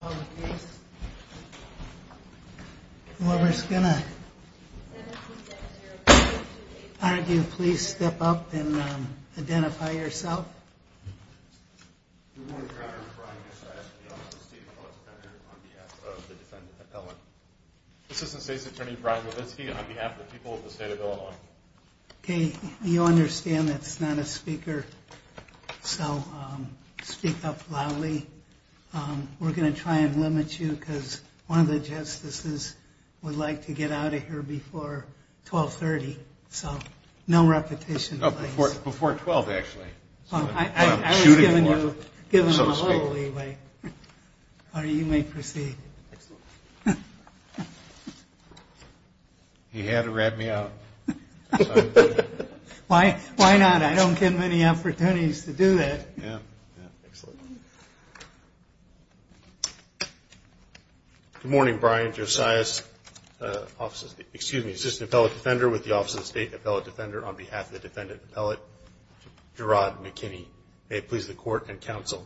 on the case. Whoever's gonna argue, please step up and identify yourself. You want to try on your side on behalf of the defendant appellant. Assistant State's Attorney Brian Levinsky on behalf of the people of the state of Illinois. Hey, you understand that's not a speaker. So speak up loudly. We're gonna try and limit you because one of the justices would like to get out of here before 1230. So no repetition. Before 12 actually. He had to rat me out. Why not? I don't give many opportunities to do that. Good morning, Brian. Josiah's offices. Excuse me. Assistant Appellate Defender with the Office of the State Appellate Defender on behalf of the defendant appellate Gerard McKinney. May it please the court and counsel.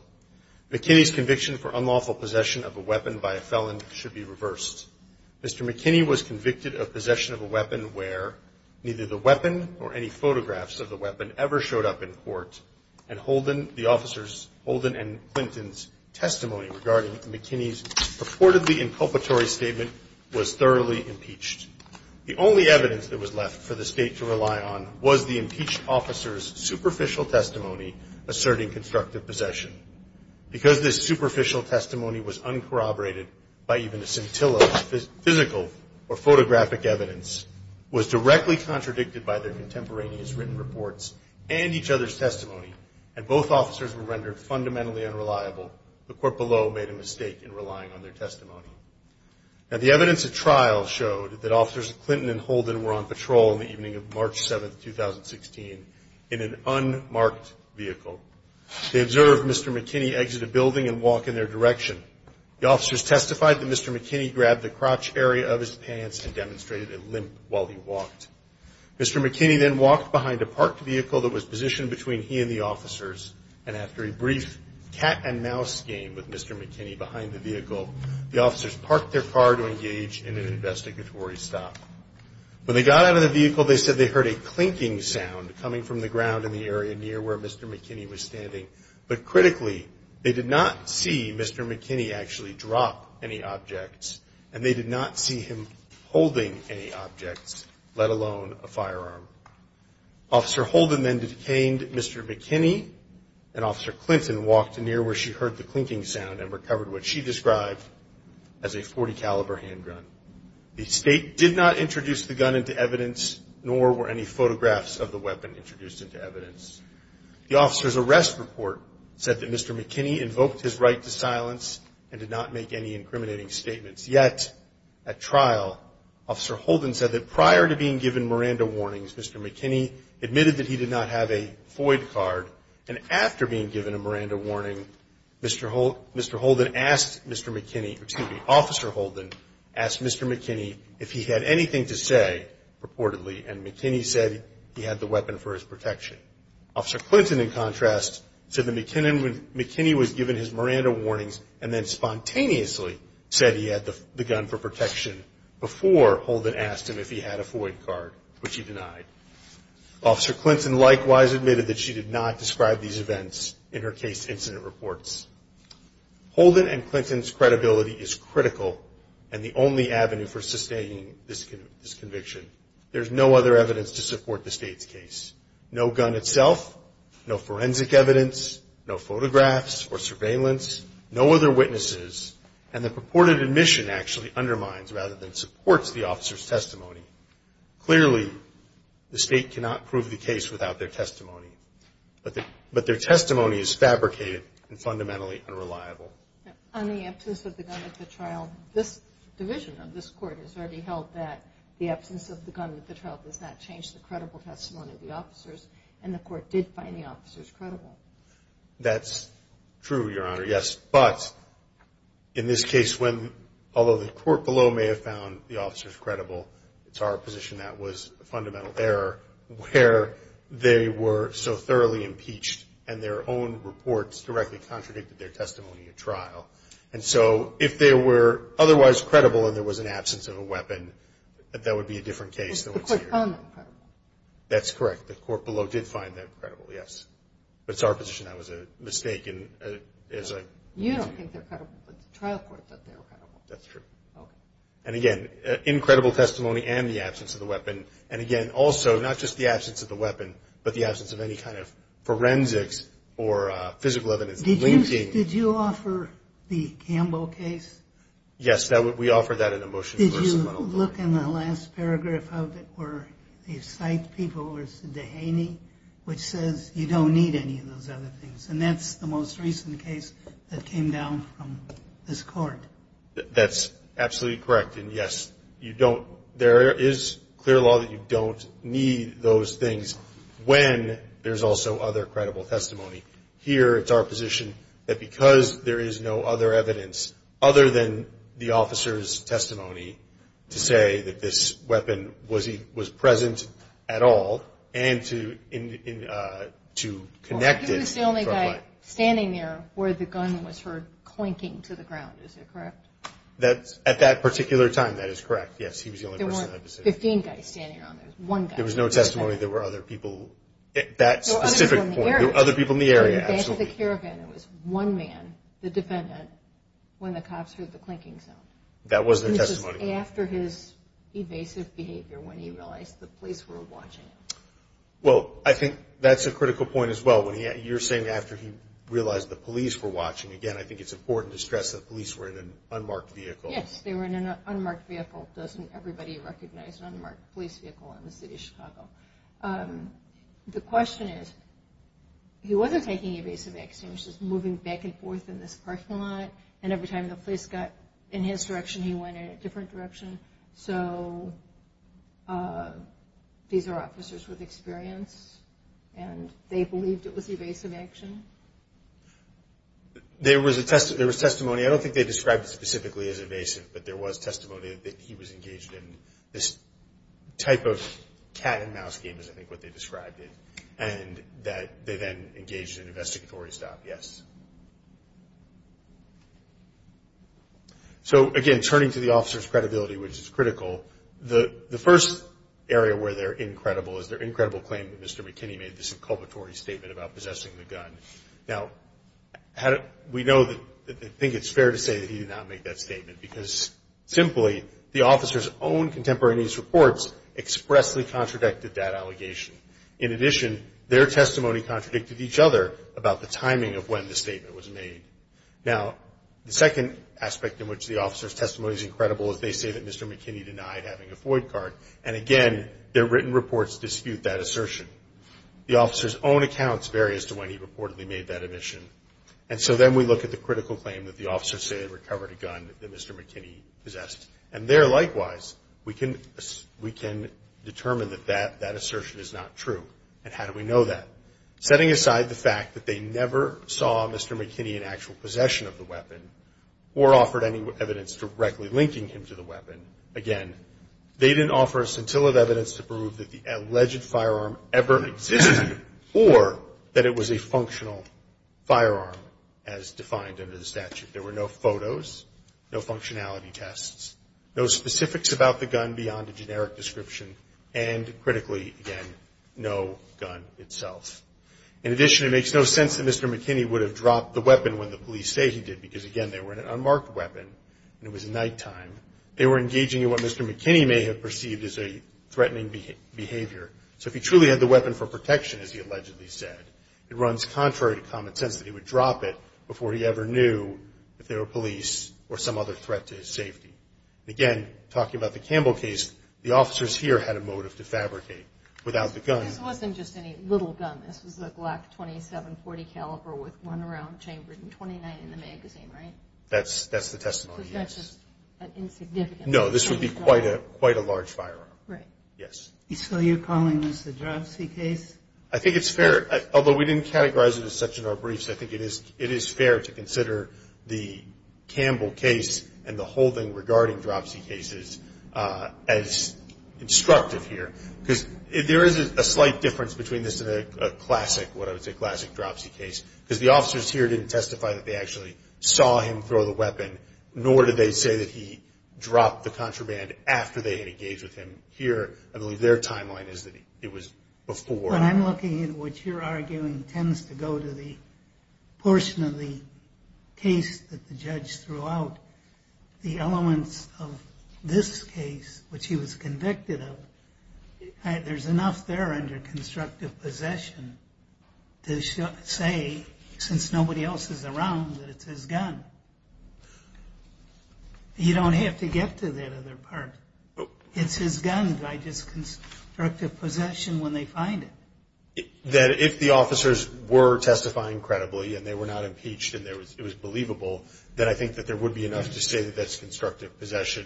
McKinney's conviction for unlawful possession of a weapon by a felon should be reversed. Mr McKinney was convicted of possession of a weapon where neither the weapon or any photographs of the weapon ever showed up in court. And Holden, the officers Holden and Clinton's testimony regarding McKinney's purportedly inculpatory statement was thoroughly impeached. The only evidence that was left for the state to rely on was the impeached officer's superficial testimony asserting constructive possession. Because this superficial testimony was uncorroborated by even a scintilla, physical or photographic was directly contradicted by their contemporaneous written reports and each other's testimony. And both officers were rendered fundamentally unreliable. The court below made a mistake in relying on their testimony. And the evidence of trial showed that officers Clinton and Holden were on patrol in the evening of March 7th, 2016 in an unmarked vehicle. They observed Mr McKinney exit a building and walk in their direction. The officers testified that Mr McKinney grabbed the crotch area of his pants and made a limp while he walked. Mr McKinney then walked behind a parked vehicle that was positioned between he and the officers. And after a brief cat and mouse game with Mr McKinney behind the vehicle, the officers parked their car to engage in an investigatory stop. When they got out of the vehicle, they said they heard a clinking sound coming from the ground in the area near where Mr McKinney was standing. But critically, they did not see Mr McKinney actually drop any objects and they did not see him holding any objects, let alone a firearm. Officer Holden then detained Mr McKinney and Officer Clinton walked near where she heard the clinking sound and recovered what she described as a 40 caliber handgun. The state did not introduce the gun into evidence, nor were any photographs of the weapon introduced into evidence. The officer's arrest report said that Mr McKinney invoked his right to at trial. Officer Holden said that prior to being given Miranda warnings, Mr McKinney admitted that he did not have a Floyd card. And after being given a Miranda warning, Mr Holden asked Mr McKinney, excuse me, Officer Holden asked Mr McKinney if he had anything to say purportedly. And McKinney said he had the weapon for his protection. Officer Clinton, in contrast, said that McKinney was given his Miranda warnings and then protection before Holden asked him if he had a Floyd card, which he denied. Officer Clinton likewise admitted that she did not describe these events in her case incident reports. Holden and Clinton's credibility is critical and the only avenue for sustaining this conviction. There's no other evidence to support the state's case. No gun itself, no forensic evidence, no photographs or surveillance, no other witnesses. And the purported admission actually undermines rather than supports the officer's testimony. Clearly, the state cannot prove the case without their testimony. But their testimony is fabricated and fundamentally unreliable. On the absence of the gun at the trial, this division of this court has already held that the absence of the gun at the trial does not change the credible testimony of the officers. And the In this case, when, although the court below may have found the officers credible, it's our position that was a fundamental error where they were so thoroughly impeached and their own reports directly contradicted their testimony at trial. And so if they were otherwise credible and there was an absence of a weapon, that would be a different case than what's here. Is the court found that credible? That's correct. The court below did find that credible, yes. But it's our position that was a mistake and is a trial court that they were credible. That's true. And again, incredible testimony and the absence of the weapon. And again, also not just the absence of the weapon, but the absence of any kind of forensics or physical evidence. Did you offer the Campbell case? Yes, that we offer that in a motion. Did you look in the last paragraph of it where you cite people or Dehaney, which says you don't need any of those other things. And that's the most recent case that came down from this court. That's absolutely correct. And yes, you don't. There is clear law that you don't need those things when there's also other credible testimony here. It's our position that because there is no other evidence other than the officer's testimony to say that this weapon was present at all and to connect it. He was the only guy standing there where the gun was heard clinking to the ground. Is it correct? At that particular time, that is correct. Yes, he was the only person. There weren't 15 guys standing around. There was one guy. There was no testimony. There were other people. That specific point. There were other people in the area. There was one man, the defendant, when the cops heard the clinking sound. That was the testimony. After his evasive behavior, when he realized the police were watching. Well, I think that's a critical point as well. When you're saying after he realized the police were watching again, I think it's important to stress that police were in an unmarked vehicle. Yes, they were in an unmarked vehicle. Doesn't everybody recognize an unmarked police vehicle in the city of Chicago? Um, the question is, he wasn't taking evasive action, which is moving back and forth in this direction. He went in a different direction. So, uh, these are officers with experience and they believed it was evasive action. There was a testimony. I don't think they described it specifically as evasive, but there was testimony that he was engaged in this type of cat and mouse game, is I think what they described it, and that they then engaged in So again, turning to the officer's credibility, which is critical. The first area where they're incredible is they're incredible claim that Mr McKinney made this inculvatory statement about possessing the gun. Now, how do we know that? I think it's fair to say that he did not make that statement because simply the officer's own contemporaneous reports expressly contradicted that allegation. In addition, their testimony contradicted each other about the timing of when the statement was made. Now, the second aspect in which the officer's testimony is incredible is they say that Mr McKinney denied having a Floyd card. And again, their written reports dispute that assertion. The officer's own accounts vary as to when he reportedly made that admission. And so then we look at the critical claim that the officers say they recovered a gun that Mr McKinney possessed. And there, likewise, we can we can determine that that that assertion is not true. And how do we know that? Setting aside the fact that they never saw Mr McKinney in actual possession of the weapon or offered any evidence directly linking him to the weapon, again, they didn't offer a scintilla of evidence to prove that the alleged firearm ever existed or that it was a functional firearm as defined under the statute. There were no photos, no functionality tests, no specifics about the gun beyond a generic description, and critically, again, no gun itself. In addition, it makes no sense that Mr McKinney would have dropped the weapon when the police say he did because, again, they were an unmarked weapon and it was nighttime. They were engaging in what Mr McKinney may have perceived as a threatening behavior. So if he truly had the weapon for protection, as he allegedly said, it runs contrary to common sense that he would drop it before he ever knew if there were police or some other threat to his safety. Again, talking about the Campbell case, the officers here had a motive to fabricate without the gun. This wasn't just any little gun. This was a Glock 27 .40 caliber with one round chambered in 29 in the magazine, right? That's the testimony, yes. So that's just an insignificance. No, this would be quite a large firearm. Right. Yes. So you're calling this the Dropsy case? I think it's fair, although we didn't categorize it as such in our briefs, I think it is fair to consider the Campbell case and the whole thing regarding Dropsy cases as instructive here. Because there is a slight difference between this and a classic, what I would say, classic Dropsy case. Because the officers here didn't testify that they actually saw him throw the weapon, nor did they say that he dropped the contraband after they had engaged with him here. I believe their timeline is that it was before. When I'm looking at what you're arguing tends to go to the portion of the case that the judge threw out, the elements of this case, which he was convicted of. There's enough there under constructive possession to say, since nobody else is around, that it's his gun. You don't have to get to that other part. It's his gun. Do I just constructive possession when they find it? That if the officers were testifying credibly and they were not impeached and it was believable, then I think that there is a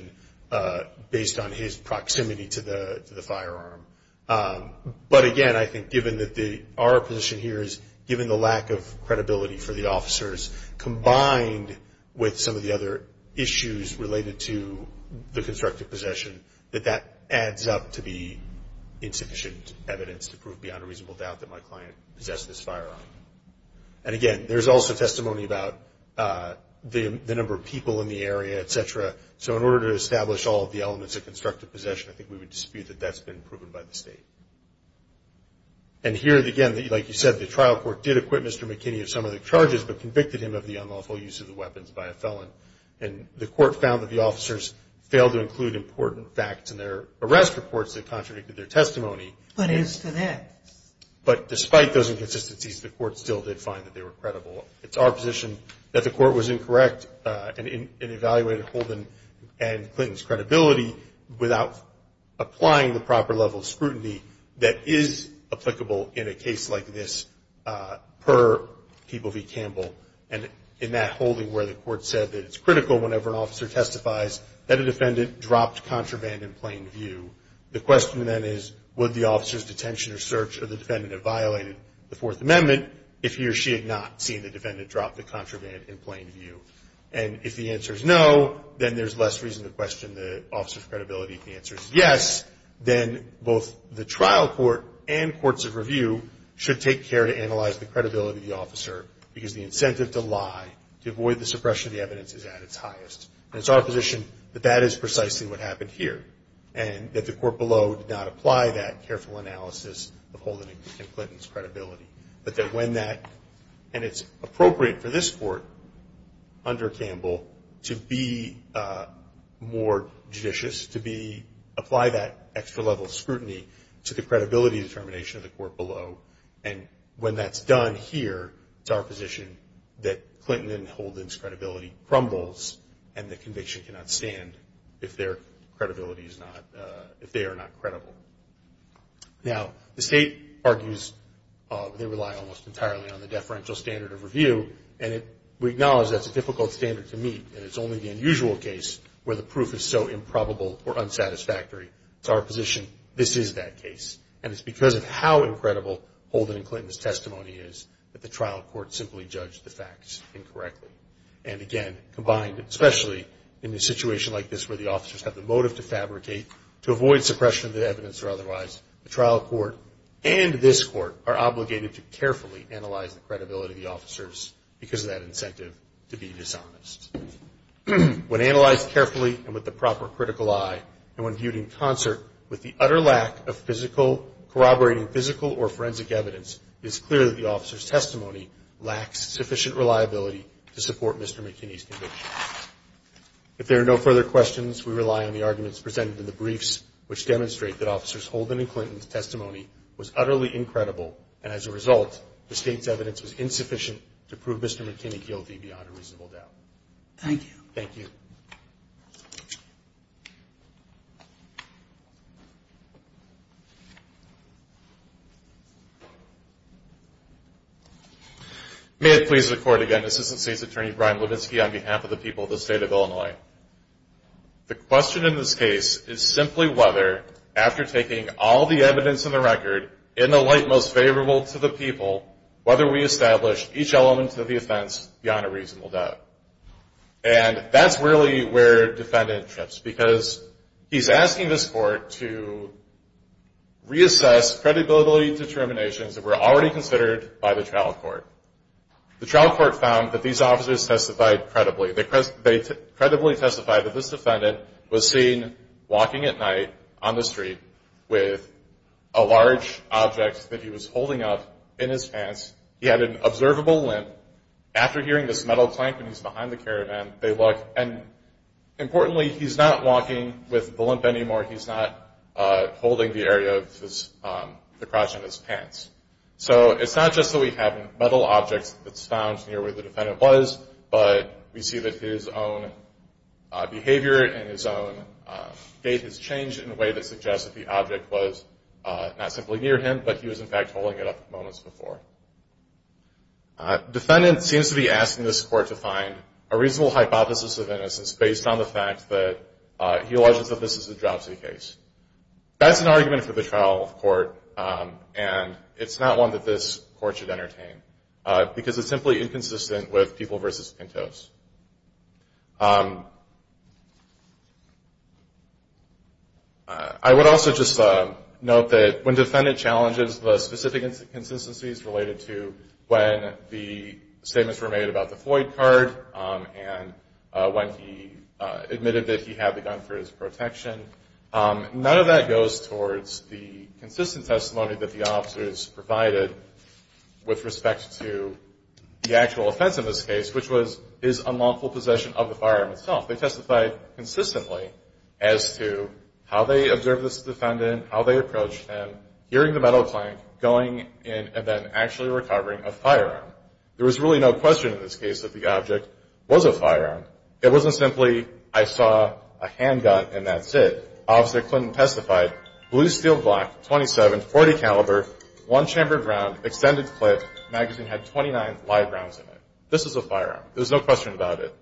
difference on his proximity to the firearm. But again, I think given that our position here is, given the lack of credibility for the officers combined with some of the other issues related to the constructive possession, that that adds up to be insufficient evidence to prove beyond a reasonable doubt that my client possessed this firearm. And again, there's also testimony about the number of people in the area, et cetera. So in terms of constructive possession, I think we would dispute that that's been proven by the state. And here again, like you said, the trial court did acquit Mr. McKinney of some of the charges but convicted him of the unlawful use of the weapons by a felon. And the court found that the officers failed to include important facts in their arrest reports that contradicted their testimony. But as to that? But despite those inconsistencies, the court still did find that they were credible. It's our position that the court was incorrect and evaluated the defendant's testimony without holding and Clinton's credibility, without applying the proper level of scrutiny that is applicable in a case like this per People v. Campbell. And in that holding where the court said that it's critical whenever an officer testifies that a defendant dropped contraband in plain view, the question then is, would the officer's detention or search of the defendant have violated the Fourth Amendment if he or she had not seen the defendant drop the contraband in plain view? And if the answer is no, then there's less reason to question the officer's credibility. If the answer is yes, then both the trial court and courts of review should take care to analyze the credibility of the officer because the incentive to lie, to avoid the suppression of the evidence is at its highest. And it's our position that that is precisely what happened here. And that the court below did not apply that careful analysis of holding and Clinton's credibility. But that when that, and it's appropriate for this court under Campbell to be more judicious, to be, apply that extra level of scrutiny to the credibility determination of the court below. And when that's done here, it's our position that Clinton and Holden's credibility crumbles and the conviction cannot stand if their credibility is not, if they are not credible. Now, the trial court and this court are obligated to carefully analyze the credibility of the officers because of that incentive to be dishonest. When analyzed carefully and with the proper critical eye, and when viewed in concert with the utter lack of physical, corroborating physical or forensic evidence, it's clear that the officer's testimony lacks sufficient reliability to support Mr. McKinney's conviction. If there are no further questions, we rely on the arguments presented in the briefs, which demonstrate that Officers Holden and Clinton's testimony was utterly incredible. And as a result, the state's evidence was insufficient to prove Mr. McKinney guilty beyond a reasonable doubt. Thank you. Thank you. May it please the court again, Assistant State's Attorney Brian Levinsky on behalf of the people of the state of Illinois. The question in this case is simply whether, after taking all the evidence in the light most favorable to the people, whether we establish each element of the offense beyond a reasonable doubt. And that's really where defendant trips because he's asking this court to reassess credibility determinations that were already considered by the trial court. The trial court found that these officers testified credibly. They credibly testified that this he was holding up in his pants. He had an observable limp. After hearing this metal clank when he's behind the caravan, they look. And importantly, he's not walking with the limp anymore. He's not holding the area of his crotch in his pants. So it's not just that we have metal objects that's found near where the defendant was, but we see that his own behavior and his own gait has changed in a way that suggests that the object was not simply near him, but he was, in fact, holding it up moments before. Defendant seems to be asking this court to find a reasonable hypothesis of innocence based on the fact that he alleges that this is a dropsy case. That's an argument for the trial court, and it's not one that this court should entertain because it's simply inconsistent with people versus Pintos. I would also just note that when defendant challenges the specific consistencies related to when the statements were made about the Floyd card and when he admitted that he had the gun for his protection, none of that goes towards the consistent testimony that the officers provided with respect to the actual offense in this case, which was his unlawful possession of the firearm itself. They testified consistently as to how they observed this defendant, how they approached him, hearing the metal clang, going in and then actually recovering a firearm. There was really no question in this case that the object was a firearm. It wasn't simply I saw a handgun and that's it. Officer Clinton testified, blue steel block, 27, 40 caliber, one chambered round, extended clip, magazine had 29 live rounds in it. This is a firearm. There's no question about it.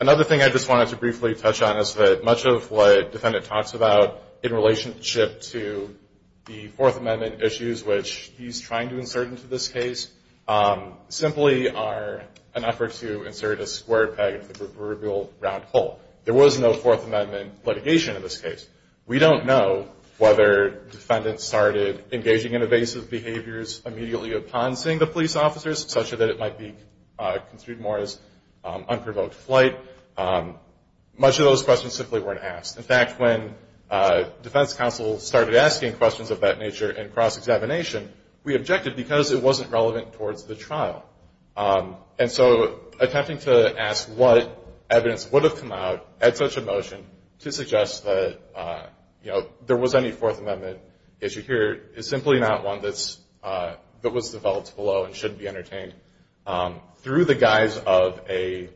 Another thing I just wanted to briefly touch on is that much of what defendant talks about in relationship to the Fourth Amendment issues, which he's trying to insert into this case, simply are an effort to insert a square peg into the proverbial round hole. There was no Fourth Amendment litigation in this case. We don't know whether defendants started engaging in evasive behaviors immediately upon seeing the police officers, such that it might be construed more as unprovoked flight. Much of those questions simply weren't asked. In fact, when defense counsel started asking questions of that nature in cross-examination, we objected because it wasn't relevant towards the trial. So attempting to ask what evidence would have come out at such a motion to suggest that there was any Fourth Amendment issue here is simply not one that was developed below and shouldn't be entertained through the guise of a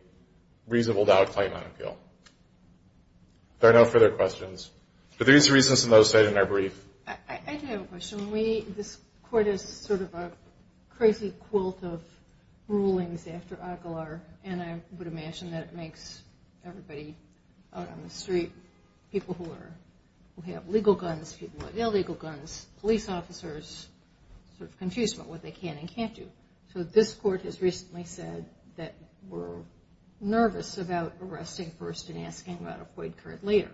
reasonable doubt claim on appeal. There are no further questions. For these reasons and those I didn't have a brief. I do have a question. This court is sort of a crazy quilt of rulings after Aguilar, and I would imagine that it makes everybody out on the street, people who have legal guns, people who have illegal guns, police officers, sort of confused about what they can and can't do. So this court has recently said that we're nervous about arresting first and asking about a void card later.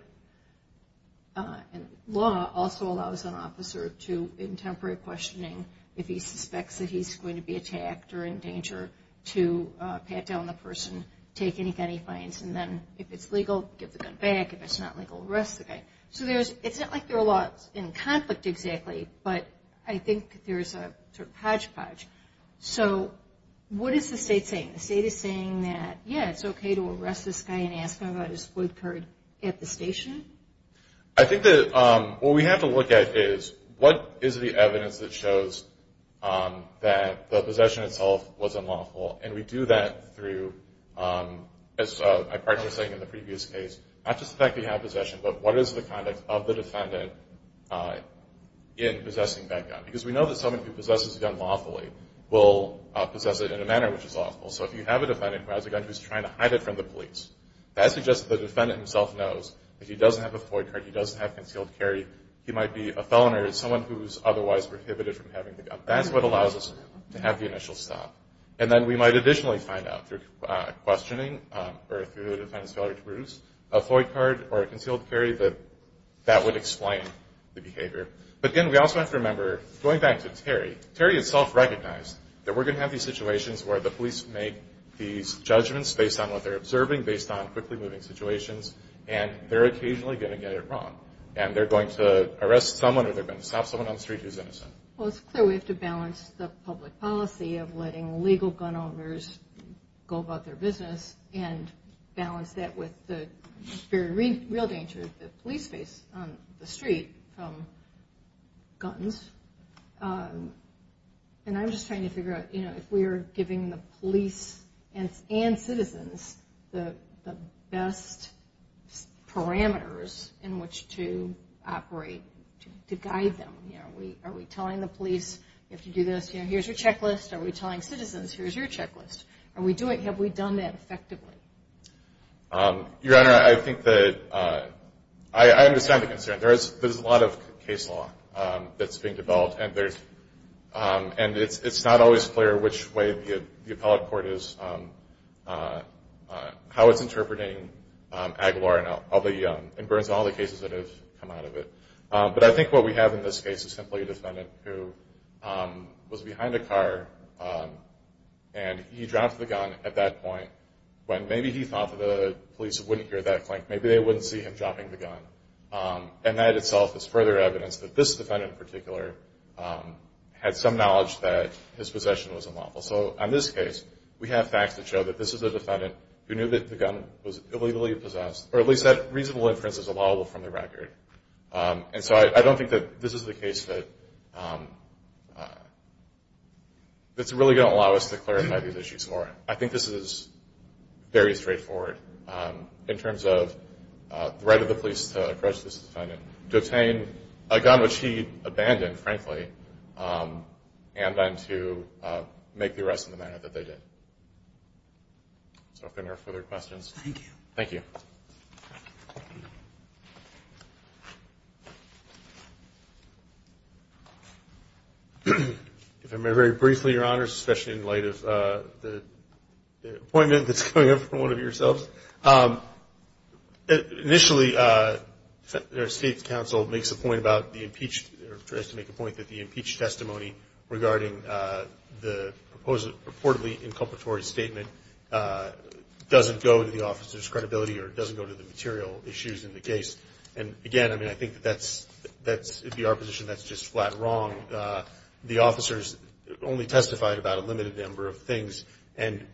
And law also allows an officer to, in temporary questioning, if he suspects that he's going to be attacked or in danger, to pat down the person, take any gun he finds, and then if it's legal, give the gun back. If it's not legal, arrest the guy. So it's not like they're in conflict exactly, but I think there's a sort of hodgepodge. So what is the state saying? The state is arresting this guy and asking about his void card at the station? I think that what we have to look at is, what is the evidence that shows that the possession itself was unlawful? And we do that through, as I partially was saying in the previous case, not just the fact that you have possession, but what is the conduct of the defendant in possessing that gun? Because we know that someone who possesses a gun lawfully will possess it in a manner which is lawful. So if you have a defendant who has a gun who's trying to hide it from the police, that suggests that the defendant himself knows that he doesn't have a void card, he doesn't have concealed carry, he might be a felon or someone who's otherwise prohibited from having the gun. That's what allows us to have the initial stop. And then we might additionally find out through questioning or through the defendant's failure to produce a void card or a concealed carry that that would explain the behavior. But again, we also have to remember, going back to Terry, Terry himself recognized that we're going to have these situations where the police make these judgments based on what they're observing, based on quickly moving situations, and they're occasionally going to get it wrong. And they're going to arrest someone or they're going to stop someone on the street who's innocent. Well, it's clear we have to balance the public policy of letting legal gun owners go about their business and balance that with the very real danger that police face on the street from guns. And I'm just trying to figure out if we're giving the police and citizens the best parameters in which to operate, to guide them. Are we telling the police, if you do this, here's your checklist? Are we telling citizens, here's your checklist? Are we doing, have we done that effectively? Your Honor, I think that, I understand the concern. There's a lot of way the appellate court is, how it's interpreting Aguilar and Burns and all the cases that have come out of it. But I think what we have in this case is simply a defendant who was behind a car and he dropped the gun at that point when maybe he thought that the police wouldn't hear that clink, maybe they wouldn't see him dropping the gun. And that itself is further evidence that this defendant in particular had some knowledge that his possession was unlawful. So on this case, we have facts that show that this is a defendant who knew that the gun was illegally possessed, or at least that reasonable inference is allowable from the record. And so I don't think that this is the case that, that's really gonna allow us to clarify these issues more. I think this is very straightforward in terms of the right of the police to approach this case fairly frankly, and then to make the arrest in the manner that they did. So if there are no further questions. Thank you. Thank you. If I may very briefly, Your Honors, especially in light of the appointment that's coming up from one of yourselves. Initially, our state's council makes a point about the impeached, or tries to make a point that the impeached testimony regarding the purportedly inculpatory statement doesn't go to the officer's credibility, or it doesn't go to the material issues in the case. And again, I mean, I think that's, that's, in our position, that's just flat wrong. The officers only testified about a limited number of things, and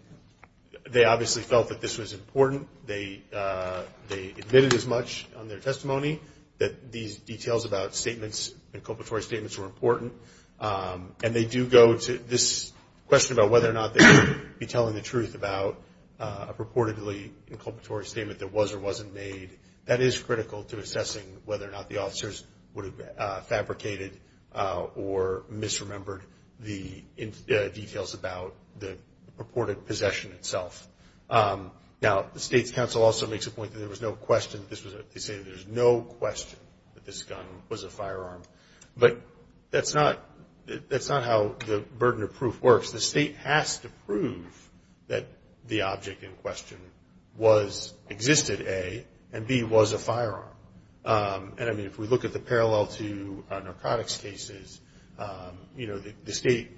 they obviously felt that this was important. They admitted as much on their testimony that these details about statements, inculpatory statements, were important. And they do go to this question about whether or not they would be telling the truth about a purportedly inculpatory statement that was or wasn't made. That is critical to assessing whether or not the officers would have fabricated or misremembered the details about the purported possession itself. Now, the state's council also makes a point that there is no question that this gun was a firearm. But that's not, that's not how the burden of proof works. The state has to prove that the object in question was, existed, A, and B, was a firearm. And I mean, if we look at the parallel to narcotics cases, the state,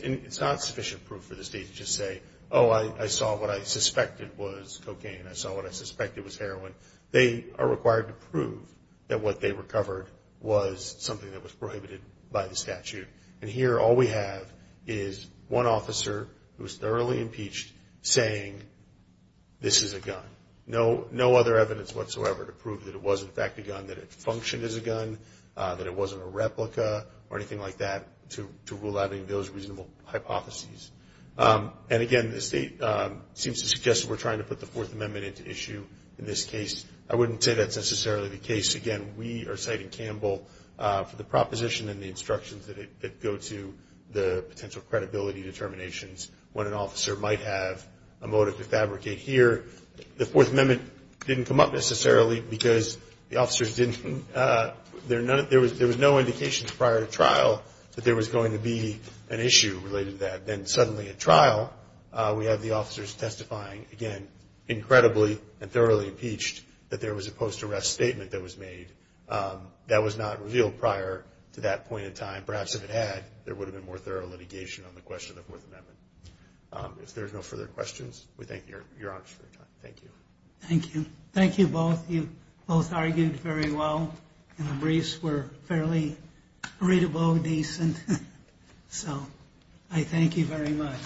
it's not sufficient proof for the state to just say, oh, I saw what I suspected was cocaine, I saw what I suspected was heroin. They are required to prove that what they recovered was something that was prohibited by the statute. And here, all we have is one officer who was thoroughly impeached saying, this is a gun. No other evidence whatsoever to prove that it was, in fact, a gun, that it functioned as a gun, that it wasn't a replica or anything like that to rule out any of those reasonable hypotheses. And again, the state seems to suggest that we're trying to put the Fourth Amendment in this case. I wouldn't say that's necessarily the case. Again, we are citing Campbell for the proposition and the instructions that go to the potential credibility determinations when an officer might have a motive to fabricate here. The Fourth Amendment didn't come up necessarily because the officers didn't... There was no indication prior to trial that there was going to be an issue related to that. Then suddenly at trial, we have the officers testifying, again, incredibly and thoroughly impeached that there was a post arrest statement that was made that was not revealed prior to that point in time. Perhaps if it had, there would have been more thorough litigation on the question of the Fourth Amendment. If there's no further questions, we thank your honors for your time. Thank you. Thank you. Thank you both. You both argued very well and the briefs were fairly readable, decent. So I thank you very much.